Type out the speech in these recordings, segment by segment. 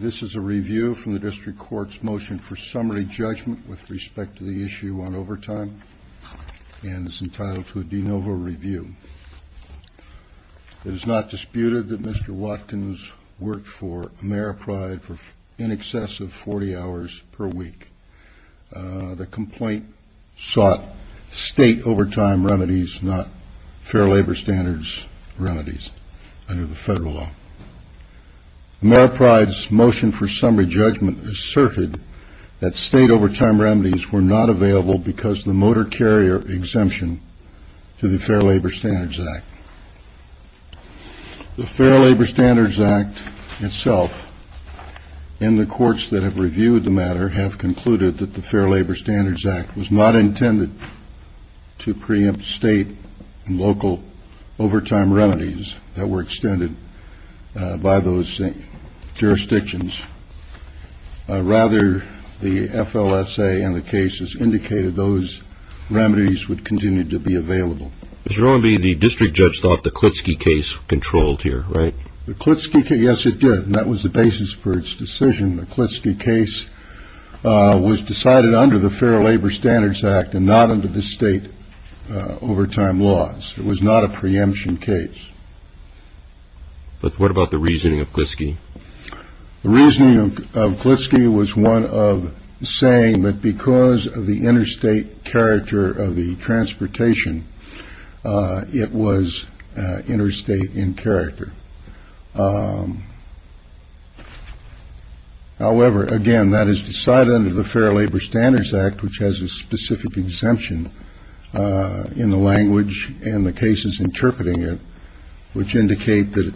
This is a review from the District Court's Motion for Summary Judgment with respect to the issue on overtime and is entitled to a de novo review. It is not disputed that Mr. Watkins worked for Ameripride for in excess of 40 hours per week. The complaint sought state overtime remedies, not fair labor standards remedies under the federal law. Ameripride's Motion for Summary Judgment asserted that state overtime remedies were not available because of the motor carrier exemption to the Fair Labor Standards Act. The Fair Labor Standards Act itself and the courts that have reviewed the matter have concluded that the Fair Labor Standards Act was not intended to preempt state and local overtime remedies that were extended by those jurisdictions. Rather, the FLSA and the cases indicated those remedies would continue to be available. Mr. Irwin, the district judge thought the Klitschke case controlled here, right? The Klitschke case, yes it did, and that was the basis for its decision. The Klitschke case was decided under the Fair Labor Standards Act and not under the state overtime laws. It was not a preemption case. But what about the reasoning of Klitschke? The reasoning of Klitschke was one of saying that because of the interstate character of the transportation, it was interstate in character. However, again, that is decided under the cases interpreting it, which indicate that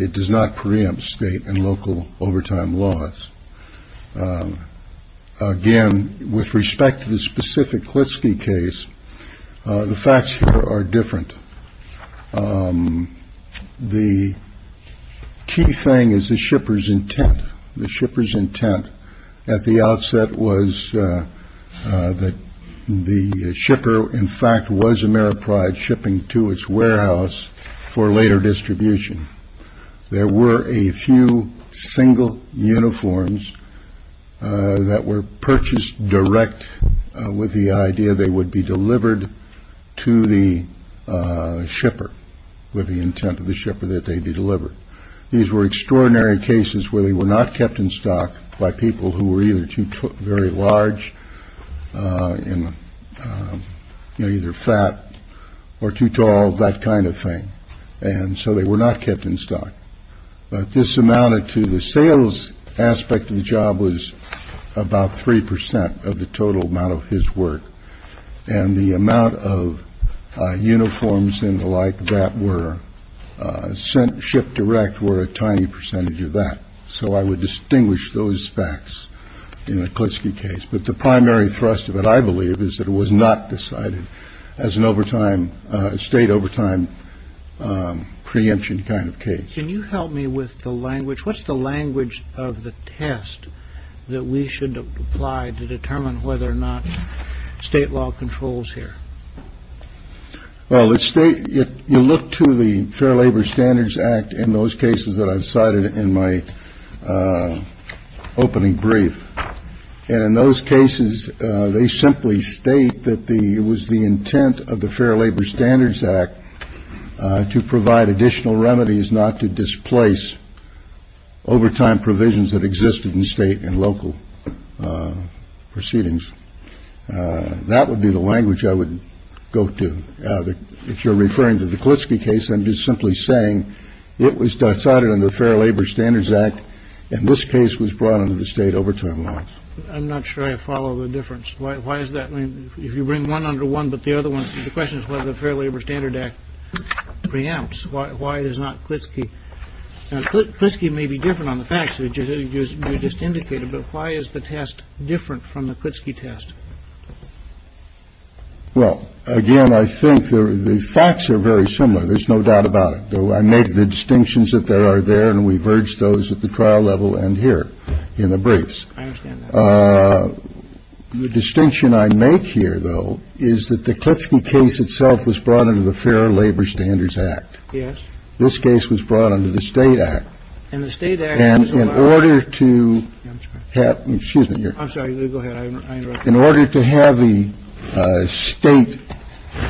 it does not preempt state and local overtime laws. Again, with respect to the specific Klitschke case, the facts here are different. The key thing is the shipper's intent. The shipper's intent at the outset was that the to its warehouse for later distribution. There were a few single uniforms that were purchased direct with the idea they would be delivered to the shipper with the intent of the shipper that they'd be delivered. These were extraordinary cases where they were not kept in stock by people who were either too very large in either fat or too tall. That kind of thing. And so they were not kept in stock. But this amounted to the sales aspect of the job was about three percent of the total amount of his work. And the amount of uniforms and the like that were sent ship direct were a tiny percentage of that. So I would distinguish those facts in a Klitschke case. But the primary thrust of it, I believe, is that it was not decided as an overtime state overtime preemption kind of case. Can you help me with the language? What's the language of the test that we should apply to determine whether or not state law controls here? Well, let's state it. You look to the Fair Labor Standards Act in those cases that I've cited in my opening brief. And in those cases, they simply state that the it was the intent of the Fair Labor Standards Act to provide additional remedies, not to displace overtime provisions that existed in state and local proceedings. That would be the language I would go to. If you're referring to the Klitschke case, I'm just simply saying it was decided on the Fair Labor Standards Act. And this case was brought under the state overtime laws. I'm not sure I follow the difference. Why is that? If you bring one under one, but the other ones. The question is whether the Fair Labor Standard Act preempts why it is not Klitschke. Klitschke may be different on the facts that you just indicated, but why is the test different from the Klitschke test? Well, again, I think the facts are very similar. There's no doubt about it. I make the distinctions that there are there. And we've urged those at the trial level and here in the briefs. The distinction I make here, though, is that the Klitschke case itself was brought into the Fair Labor Standards Act. Yes. This case was brought under the state act and the state. And in order to have excuse me. I'm sorry. Go ahead. In order to have the state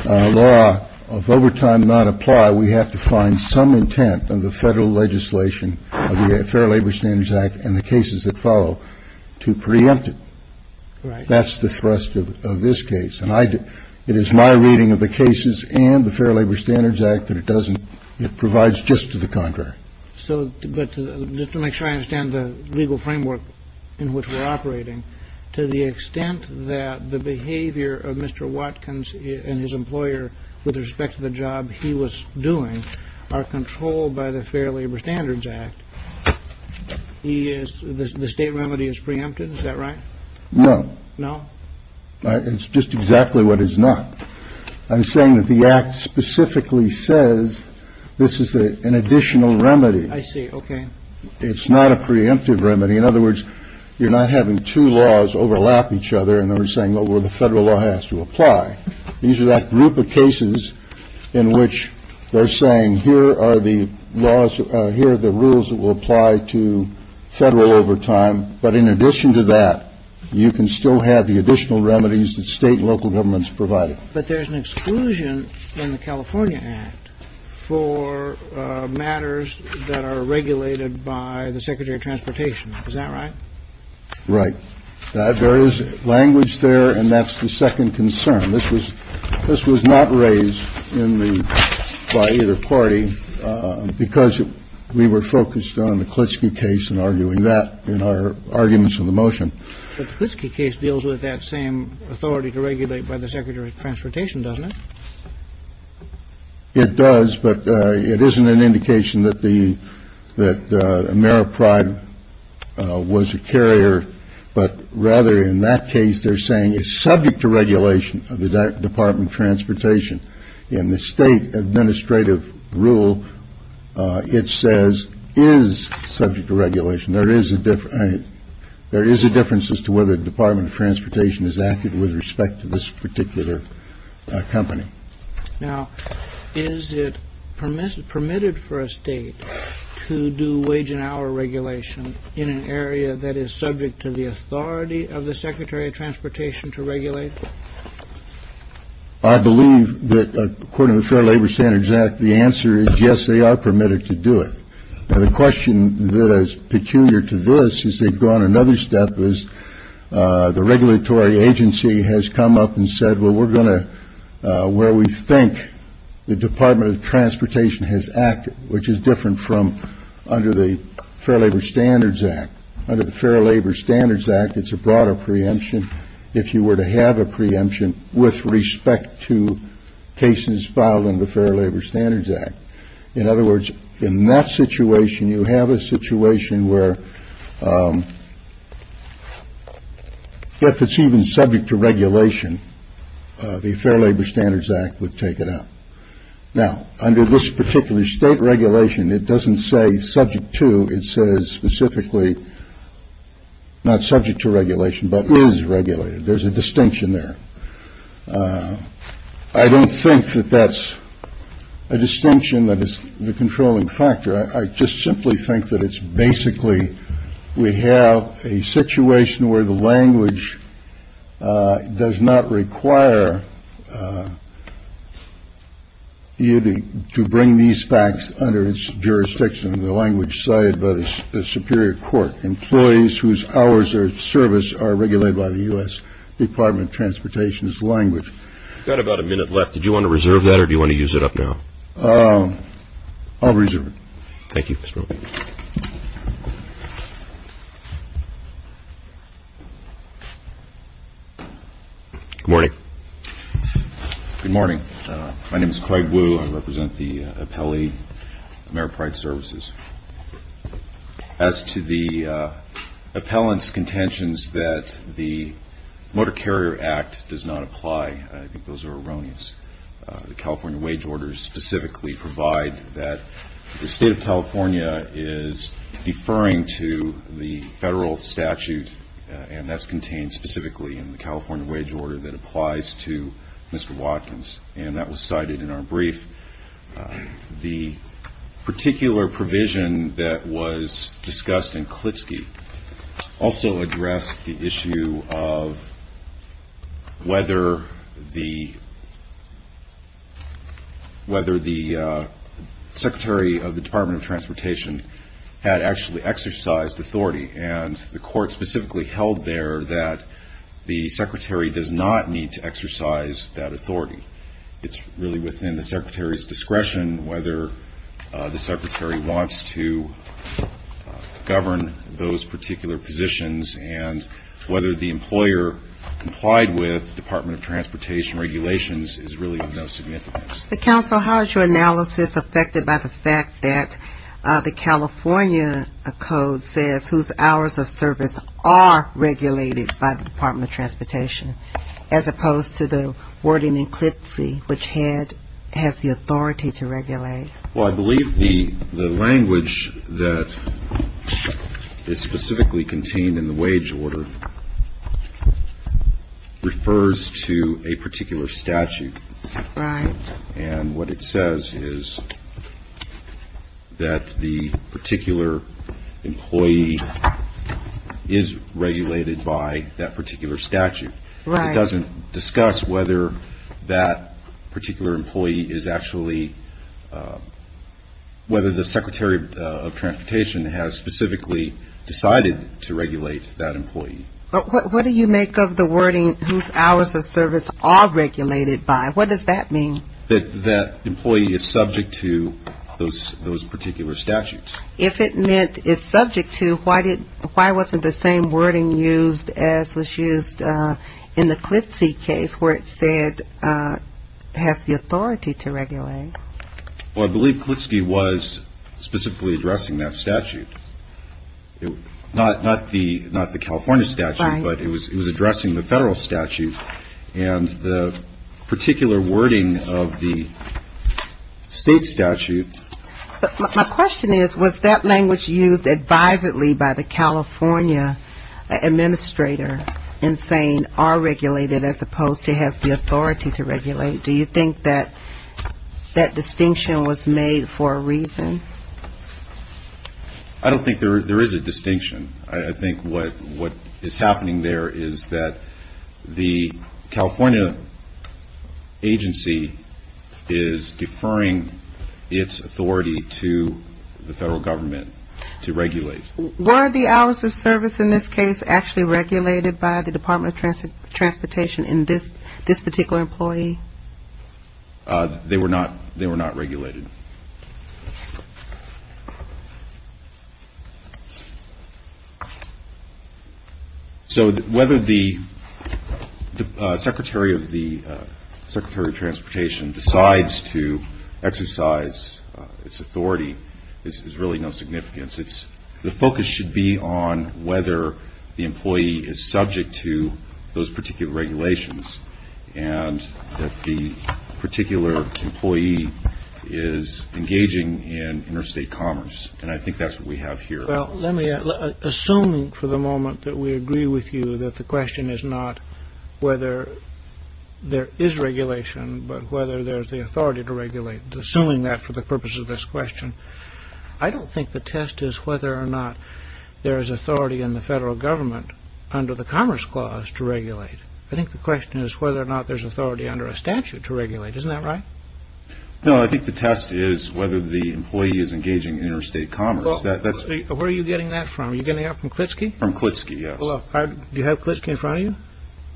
law of overtime not apply, we have to find some intent of the federal legislation of the Fair Labor Standards Act and the cases that follow to preempt it. That's the thrust of this case. And it is my reading of the cases and the Fair Labor Standards Act that it doesn't it provides just to the contrary. So but to make sure I understand the legal framework in which we're operating, to the extent that the behavior of Mr. Watkins and his employer with respect to the job he was doing are controlled by the Fair Labor Standards Act. He is the state remedy is preempted. Is that right? No, no. It's just exactly what is not. I'm saying that the act specifically says this is an additional remedy. I see. OK. It's not a preemptive remedy. In other words, you're not having two laws overlap each other. And they're saying, well, the federal law has to apply. These are that group of cases in which they're saying here are the laws. Here are the rules that will apply to federal overtime. But in addition to that, you can still have the additional remedies that state and local governments provided. But there's an exclusion in the California Act for matters that are regulated by the secretary of transportation. Is that right? Right. There is language there. And that's the second concern. This was this was not raised in the party because we were focused on the Klitschko case and arguing that. In our arguments in the motion, this case deals with that same authority to regulate by the secretary of transportation, doesn't it? It does. But it isn't an indication that the that Ameripride was a carrier. But rather, in that case, they're saying is subject to regulation of the Department of Transportation. In the state administrative rule, it says is subject to regulation. There is a difference. There is a difference as to whether the Department of Transportation is acted with respect to this particular company. Now, is it permitted permitted for a state to do wage and hour regulation in an area that is subject to the authority of the secretary of transportation to regulate? I believe that according to the Fair Labor Standards Act, the answer is yes, they are permitted to do it. The question that is peculiar to this is they've gone another step is the regulatory agency has come up and said, well, we're going to where we think the Department of Transportation has acted, which is different from under the Fair Labor Standards Act under the Fair Labor Standards Act. It's a broader preemption. If you were to have a preemption with respect to cases filed in the Fair Labor Standards Act. In other words, in that situation, you have a situation where if it's even subject to regulation, the Fair Labor Standards Act would take it out. Now, under this particular state regulation, it doesn't say subject to it says specifically not subject to regulation, but is regulated. There's a distinction there. I don't think that that's a distinction that is the controlling factor. I just simply think that it's basically we have a situation where the language does not require. You to bring these facts under its jurisdiction, the language cited by the Superior Court. Employees whose hours or service are regulated by the U.S. Department of Transportation's language. Got about a minute left. Did you want to reserve that or do you want to use it up now? I'll reserve it. Thank you. Good morning. Good morning. My name is Craig Wu. I represent the appellee merit pride services. As to the appellant's contentions that the Motor Carrier Act does not apply, I think those are erroneous. The California wage orders specifically provide that the state of California is deferring to the federal statute, and that's contained specifically in the California wage order that applies to Mr. Watkins, and that was cited in our brief. The particular provision that was discussed in Klitschke also addressed the issue of whether the secretary of the Department of Transportation had actually exercised authority. And the court specifically held there that the secretary does not need to exercise that authority. It's really within the secretary's discretion whether the secretary wants to govern those particular positions and whether the employer complied with Department of Transportation regulations is really of no significance. But counsel, how is your analysis affected by the fact that the California code says whose hours of service are regulated by the Department of Transportation as opposed to the warden in Klitschke, which has the authority to regulate? Well, I believe the language that is specifically contained in the wage order refers to a particular statute. Right. And what it says is that the particular employee is regulated by that particular statute. Right. It doesn't discuss whether that particular employee is actually whether the secretary of transportation has specifically decided to regulate that employee. What do you make of the wording whose hours of service are regulated by? What does that mean? That that employee is subject to those particular statutes. If it meant is subject to, why wasn't the same wording used as was used in the Klitschke case where it said has the authority to regulate? Well, I believe Klitschke was specifically addressing that statute. Not the California statute, but it was addressing the federal statute. And the particular wording of the state statute. My question is, was that language used advisedly by the California administrator in saying are regulated as opposed to has the authority to regulate? Do you think that that distinction was made for a reason? I don't think there is a distinction. I think what is happening there is that the California agency is deferring its authority to the federal government to regulate. Were the hours of service in this case actually regulated by the Department of Transportation in this particular employee? They were not. They were not regulated. So whether the Secretary of the Secretary of Transportation decides to exercise its authority is really no significance. It's the focus should be on whether the employee is subject to those particular regulations. And that the particular employee is engaging in interstate commerce. And I think that's what we have here. Well, let me assume for the moment that we agree with you that the question is not whether there is regulation, but whether there is the authority to regulate. Assuming that for the purpose of this question. I don't think the test is whether or not there is authority in the federal government under the Commerce Clause to regulate. I think the question is whether or not there is authority under a statute to regulate. Isn't that right? No, I think the test is whether the employee is engaging in interstate commerce. Where are you getting that from? Are you getting that from Klitschke? From Klitschke, yes. Do you have Klitschke in front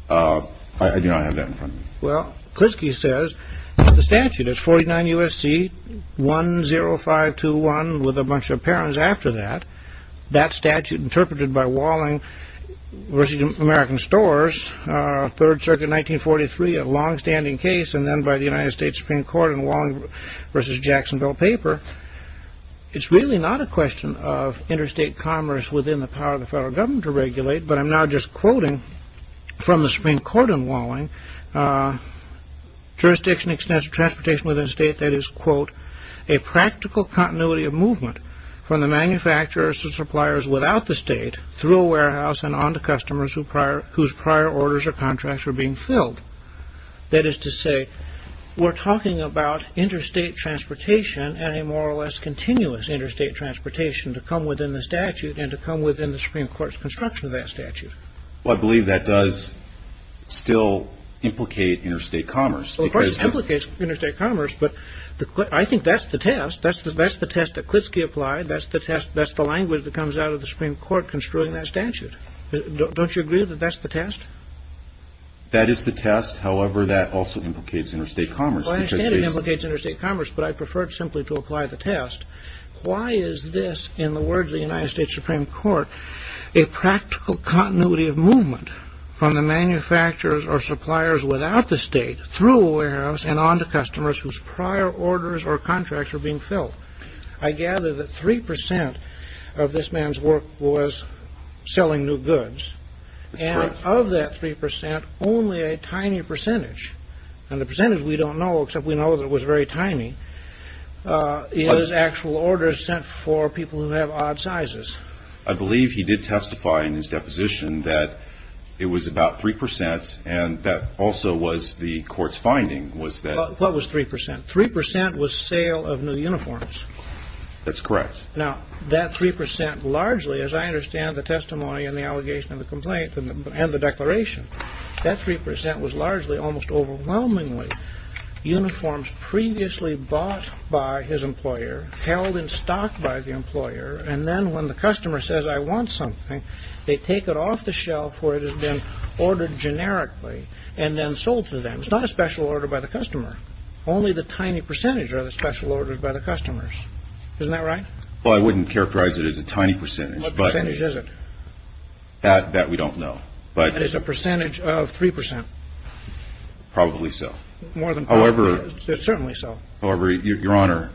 of you? I do not have that in front of me. Well, Klitschke says the statute is 49 U.S.C. 10521 with a bunch of parents after that. That statute interpreted by Walling v. American Stores, 3rd Circuit 1943, a longstanding case. And then by the United States Supreme Court in Walling v. Jacksonville paper. It's really not a question of interstate commerce within the power of the federal government to regulate. But I'm now just quoting from the Supreme Court in Walling. Jurisdiction extends to transportation within a state that is, quote, a practical continuity of movement from the manufacturers to suppliers without the state through a warehouse and on to customers whose prior orders or contracts are being filled. That is to say, we're talking about interstate transportation and a more or less continuous interstate transportation to come within the statute and to come within the Supreme Court's construction of that statute. Well, I believe that does still implicate interstate commerce. Well, of course it implicates interstate commerce. But I think that's the test. That's the test that Klitschke applied. That's the test. That's the language that comes out of the Supreme Court construing that statute. Don't you agree that that's the test? That is the test. However, that also implicates interstate commerce. Well, I understand it implicates interstate commerce. But I prefer it simply to apply the test. Why is this, in the words of the United States Supreme Court, a practical continuity of movement from the manufacturers or suppliers without the state through a warehouse and on to customers whose prior orders or contracts are being filled? I gather that 3% of this man's work was selling new goods. And of that 3%, only a tiny percentage, and the percentage we don't know except we know that it was very tiny, is actual orders sent for people who have odd sizes. I believe he did testify in his deposition that it was about 3%, and that also was the court's finding. What was 3%? 3% was sale of new uniforms. That's correct. Now, that 3%, largely, as I understand the testimony and the allegation and the complaint and the declaration, that 3% was largely, almost overwhelmingly, uniforms previously bought by his employer, held in stock by the employer, and then when the customer says, I want something, they take it off the shelf where it has been ordered generically and then sold to them. It's not a special order by the customer. Only the tiny percentage are the special orders by the customers. Isn't that right? Well, I wouldn't characterize it as a tiny percentage. What percentage is it? That we don't know. It is a percentage of 3%. Probably so. More than probably. Certainly so. However, Your Honor,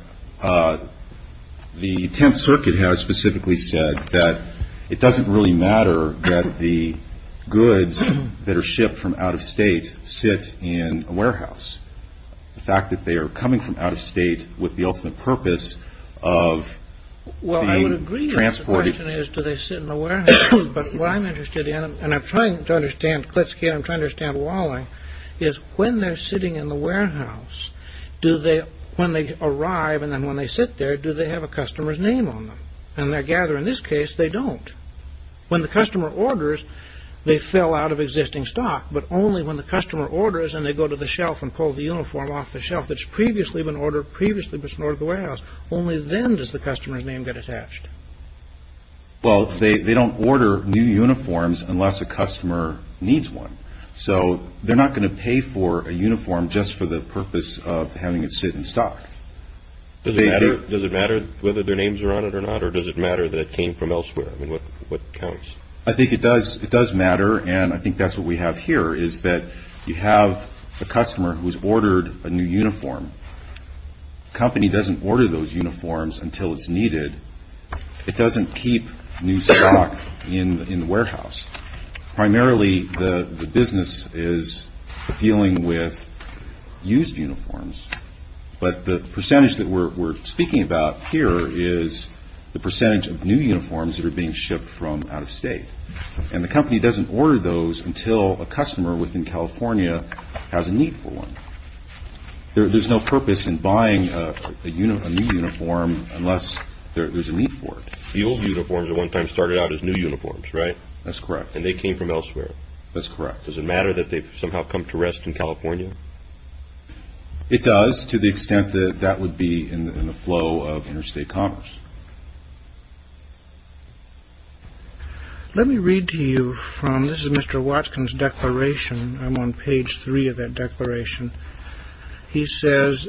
the Tenth Circuit has specifically said that it doesn't really matter that the goods that are shipped from out of state sit in a warehouse. The fact that they are coming from out of state with the ultimate purpose of being transported. Well, I would agree that the question is, do they sit in a warehouse? But what I'm interested in, and I'm trying to understand Klitschke, and I'm trying to understand Walling, is when they're sitting in the warehouse, do they, when they arrive, and then when they sit there, do they have a customer's name on them? And I gather in this case, they don't. When the customer orders, they fill out of existing stock, but only when the customer orders and they go to the shelf and pull the uniform off the shelf that's previously been ordered, Only then does the customer's name get attached. Well, they don't order new uniforms unless a customer needs one. So they're not going to pay for a uniform just for the purpose of having it sit in stock. Does it matter whether their names are on it or not, or does it matter that it came from elsewhere? I mean, what counts? I think it does. It does matter, and I think that's what we have here, is that you have a customer who's ordered a new uniform. The company doesn't order those uniforms until it's needed. It doesn't keep new stock in the warehouse. Primarily, the business is dealing with used uniforms, but the percentage that we're speaking about here is the percentage of new uniforms that are being shipped from out of state. And the company doesn't order those until a customer within California has a need for one. There's no purpose in buying a new uniform unless there's a need for it. The old uniforms at one time started out as new uniforms, right? That's correct. And they came from elsewhere. That's correct. Does it matter that they've somehow come to rest in California? It does, to the extent that that would be in the flow of interstate commerce. Let me read to you from... This is Mr. Watkins' declaration. I'm on page 3 of that declaration. He says,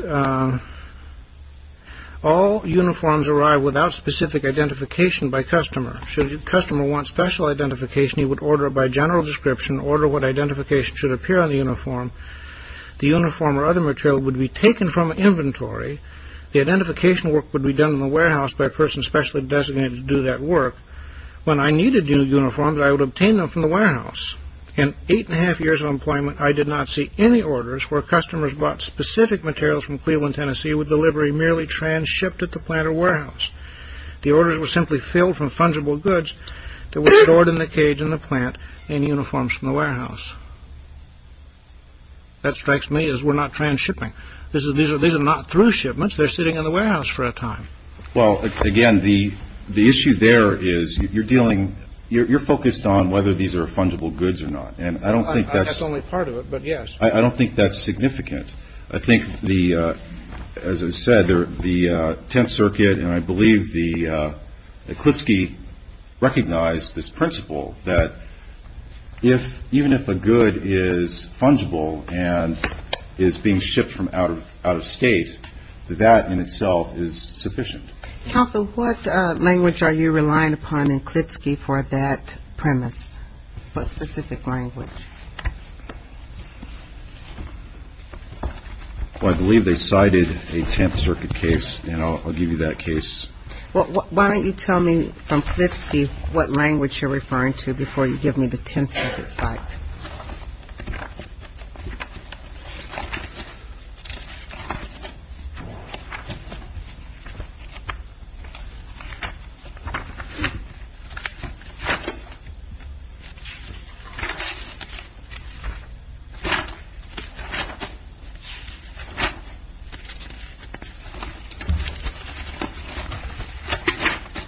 All uniforms arrive without specific identification by customer. Should a customer want special identification, he would order it by general description, order what identification should appear on the uniform. The uniform or other material would be taken from inventory. The identification work would be done in the warehouse by a person specially designated to do that work. When I needed new uniforms, I would obtain them from the warehouse. In eight and a half years of employment, I did not see any orders where customers bought specific materials from Cleveland, Tennessee with delivery merely trans-shipped at the plant or warehouse. The orders were simply filled from fungible goods that were stored in the cage in the plant in uniforms from the warehouse. That strikes me as we're not trans-shipping. These are not through shipments. They're sitting in the warehouse for a time. Well, again, the issue there is you're dealing... You're focused on whether these are fungible goods or not. And I don't think that's... That's only part of it, but yes. I don't think that's significant. I think the... As I said, the Tenth Circuit and I believe that Klitschke recognized this principle that even if a good is fungible and is being shipped from out of state, that in itself is sufficient. Counsel, what language are you relying upon in Klitschke for that premise? What specific language? Well, I believe they cited a Tenth Circuit case and I'll give you that case. Well, why don't you tell me from Klitschke what language you're referring to before you give me the Tenth Circuit cite?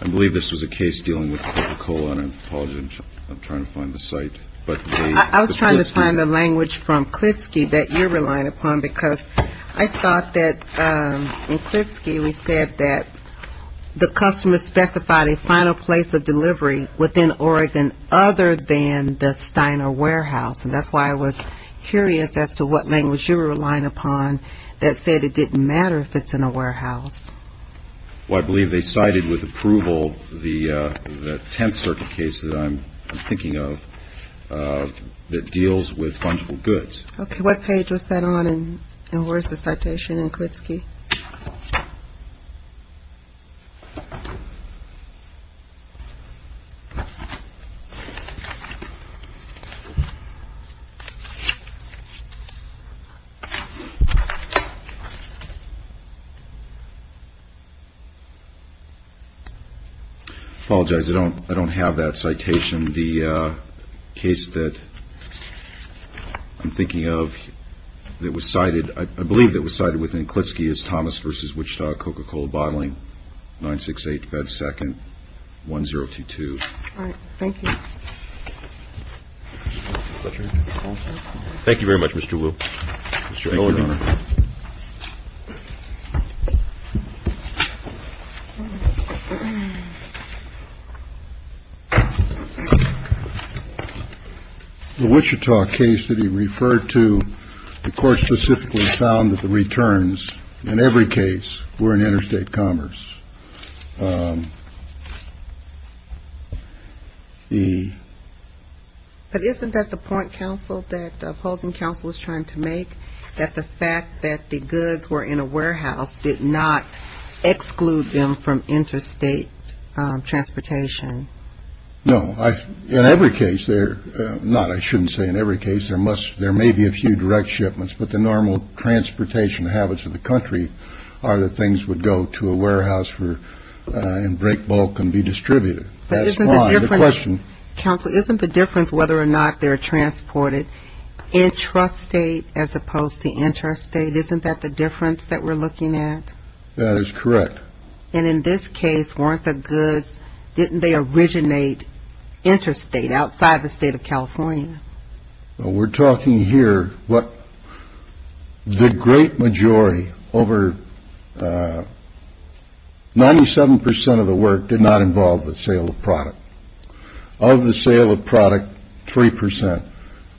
I believe this was a case dealing with Coca-Cola and I apologize. I'm trying to find the cite. I was trying to find the language from Klitschke that you're relying upon because I thought that in Klitschke specified a final place of delivery within Oregon other than the Steiner Warehouse and that's why I was curious as to why they didn't specify a final place as to what language you're relying upon that said it didn't matter if it's in a warehouse. Well, I believe they cited with approval the Tenth Circuit case that I'm thinking of that deals with fungible goods. Okay, what page was that on and where's the citation in Klitschke? Apologize, I don't have that citation. The case that I'm thinking of that was cited I believe that was cited within Klitschke is Thomas v. Wichita thank you. Thank you very much Mr. Williams. Thank you. Thank you. Thank you. Thank you. Thank you. Thank you. Thank you. Thank you. Thank you, Your Honor. The Wichita case that your referred to the court specifically found that the returns in every case were in interstate commerce. But isn't that the point Counsel that the opposing counsel is trying to make? That the fact that the goods were in a warehouse did not exclude them from interstate transportation. No, in every case there, not I shouldn't say in every case, there must, there may be a few direct shipments, but the normal transportation habits of the country are that things would go to a warehouse for and break bulk and be distributed. That's why the question Counsel, isn't the difference whether or not they're transported intrastate as opposed to interstate, isn't that the difference that we're looking at? That is correct. And in this case, weren't the goods, didn't they originate interstate, outside the state of California? Well, we're talking here over 97 percent of the work did not involve the sale of product. Of the sale of product, 3 percent of the goods did not involve the sale of goods. So,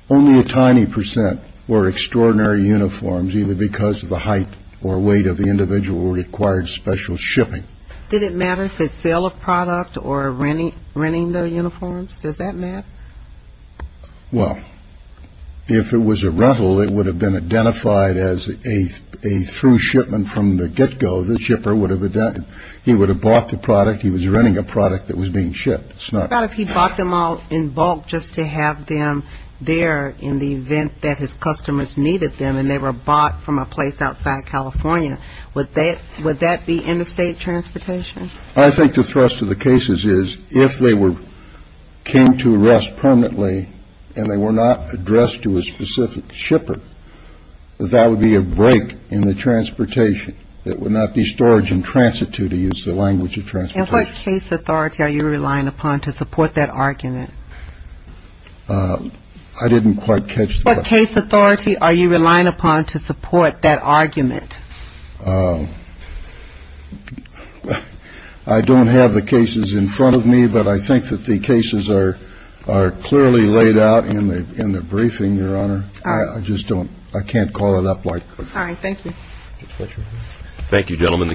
only a tiny percent were extraordinary uniforms, either because of the height or weight of the individual required special shipping. Did it matter if it's sale of product or renting the uniforms? Does that matter? Well, if it was a rental, it would have been identified as a through shipment from the get-go. The shipper would have, he would have bought the product, he was renting a product that was being shipped. But if he bought them all in bulk just to have them there in the event that his customers needed them and they were bought from a place outside California, would that be interstate transportation? I think the thrust of the cases is, if they were, came to rest permanently and they were not addressed to a specific shipper, that would be a break in the transportation. It would not be storage and transit to, to use the language of transportation. What case authority are you relying upon to support that argument? I didn't quite catch the question. What case authority are you relying upon to support that argument? I don't have the cases in front of me, but I think that the cases are, are clearly laid out in the, in the briefing, Your Honor. I just don't, I can't call it up like that. All right, thank you. Thank you, gentlemen. The case just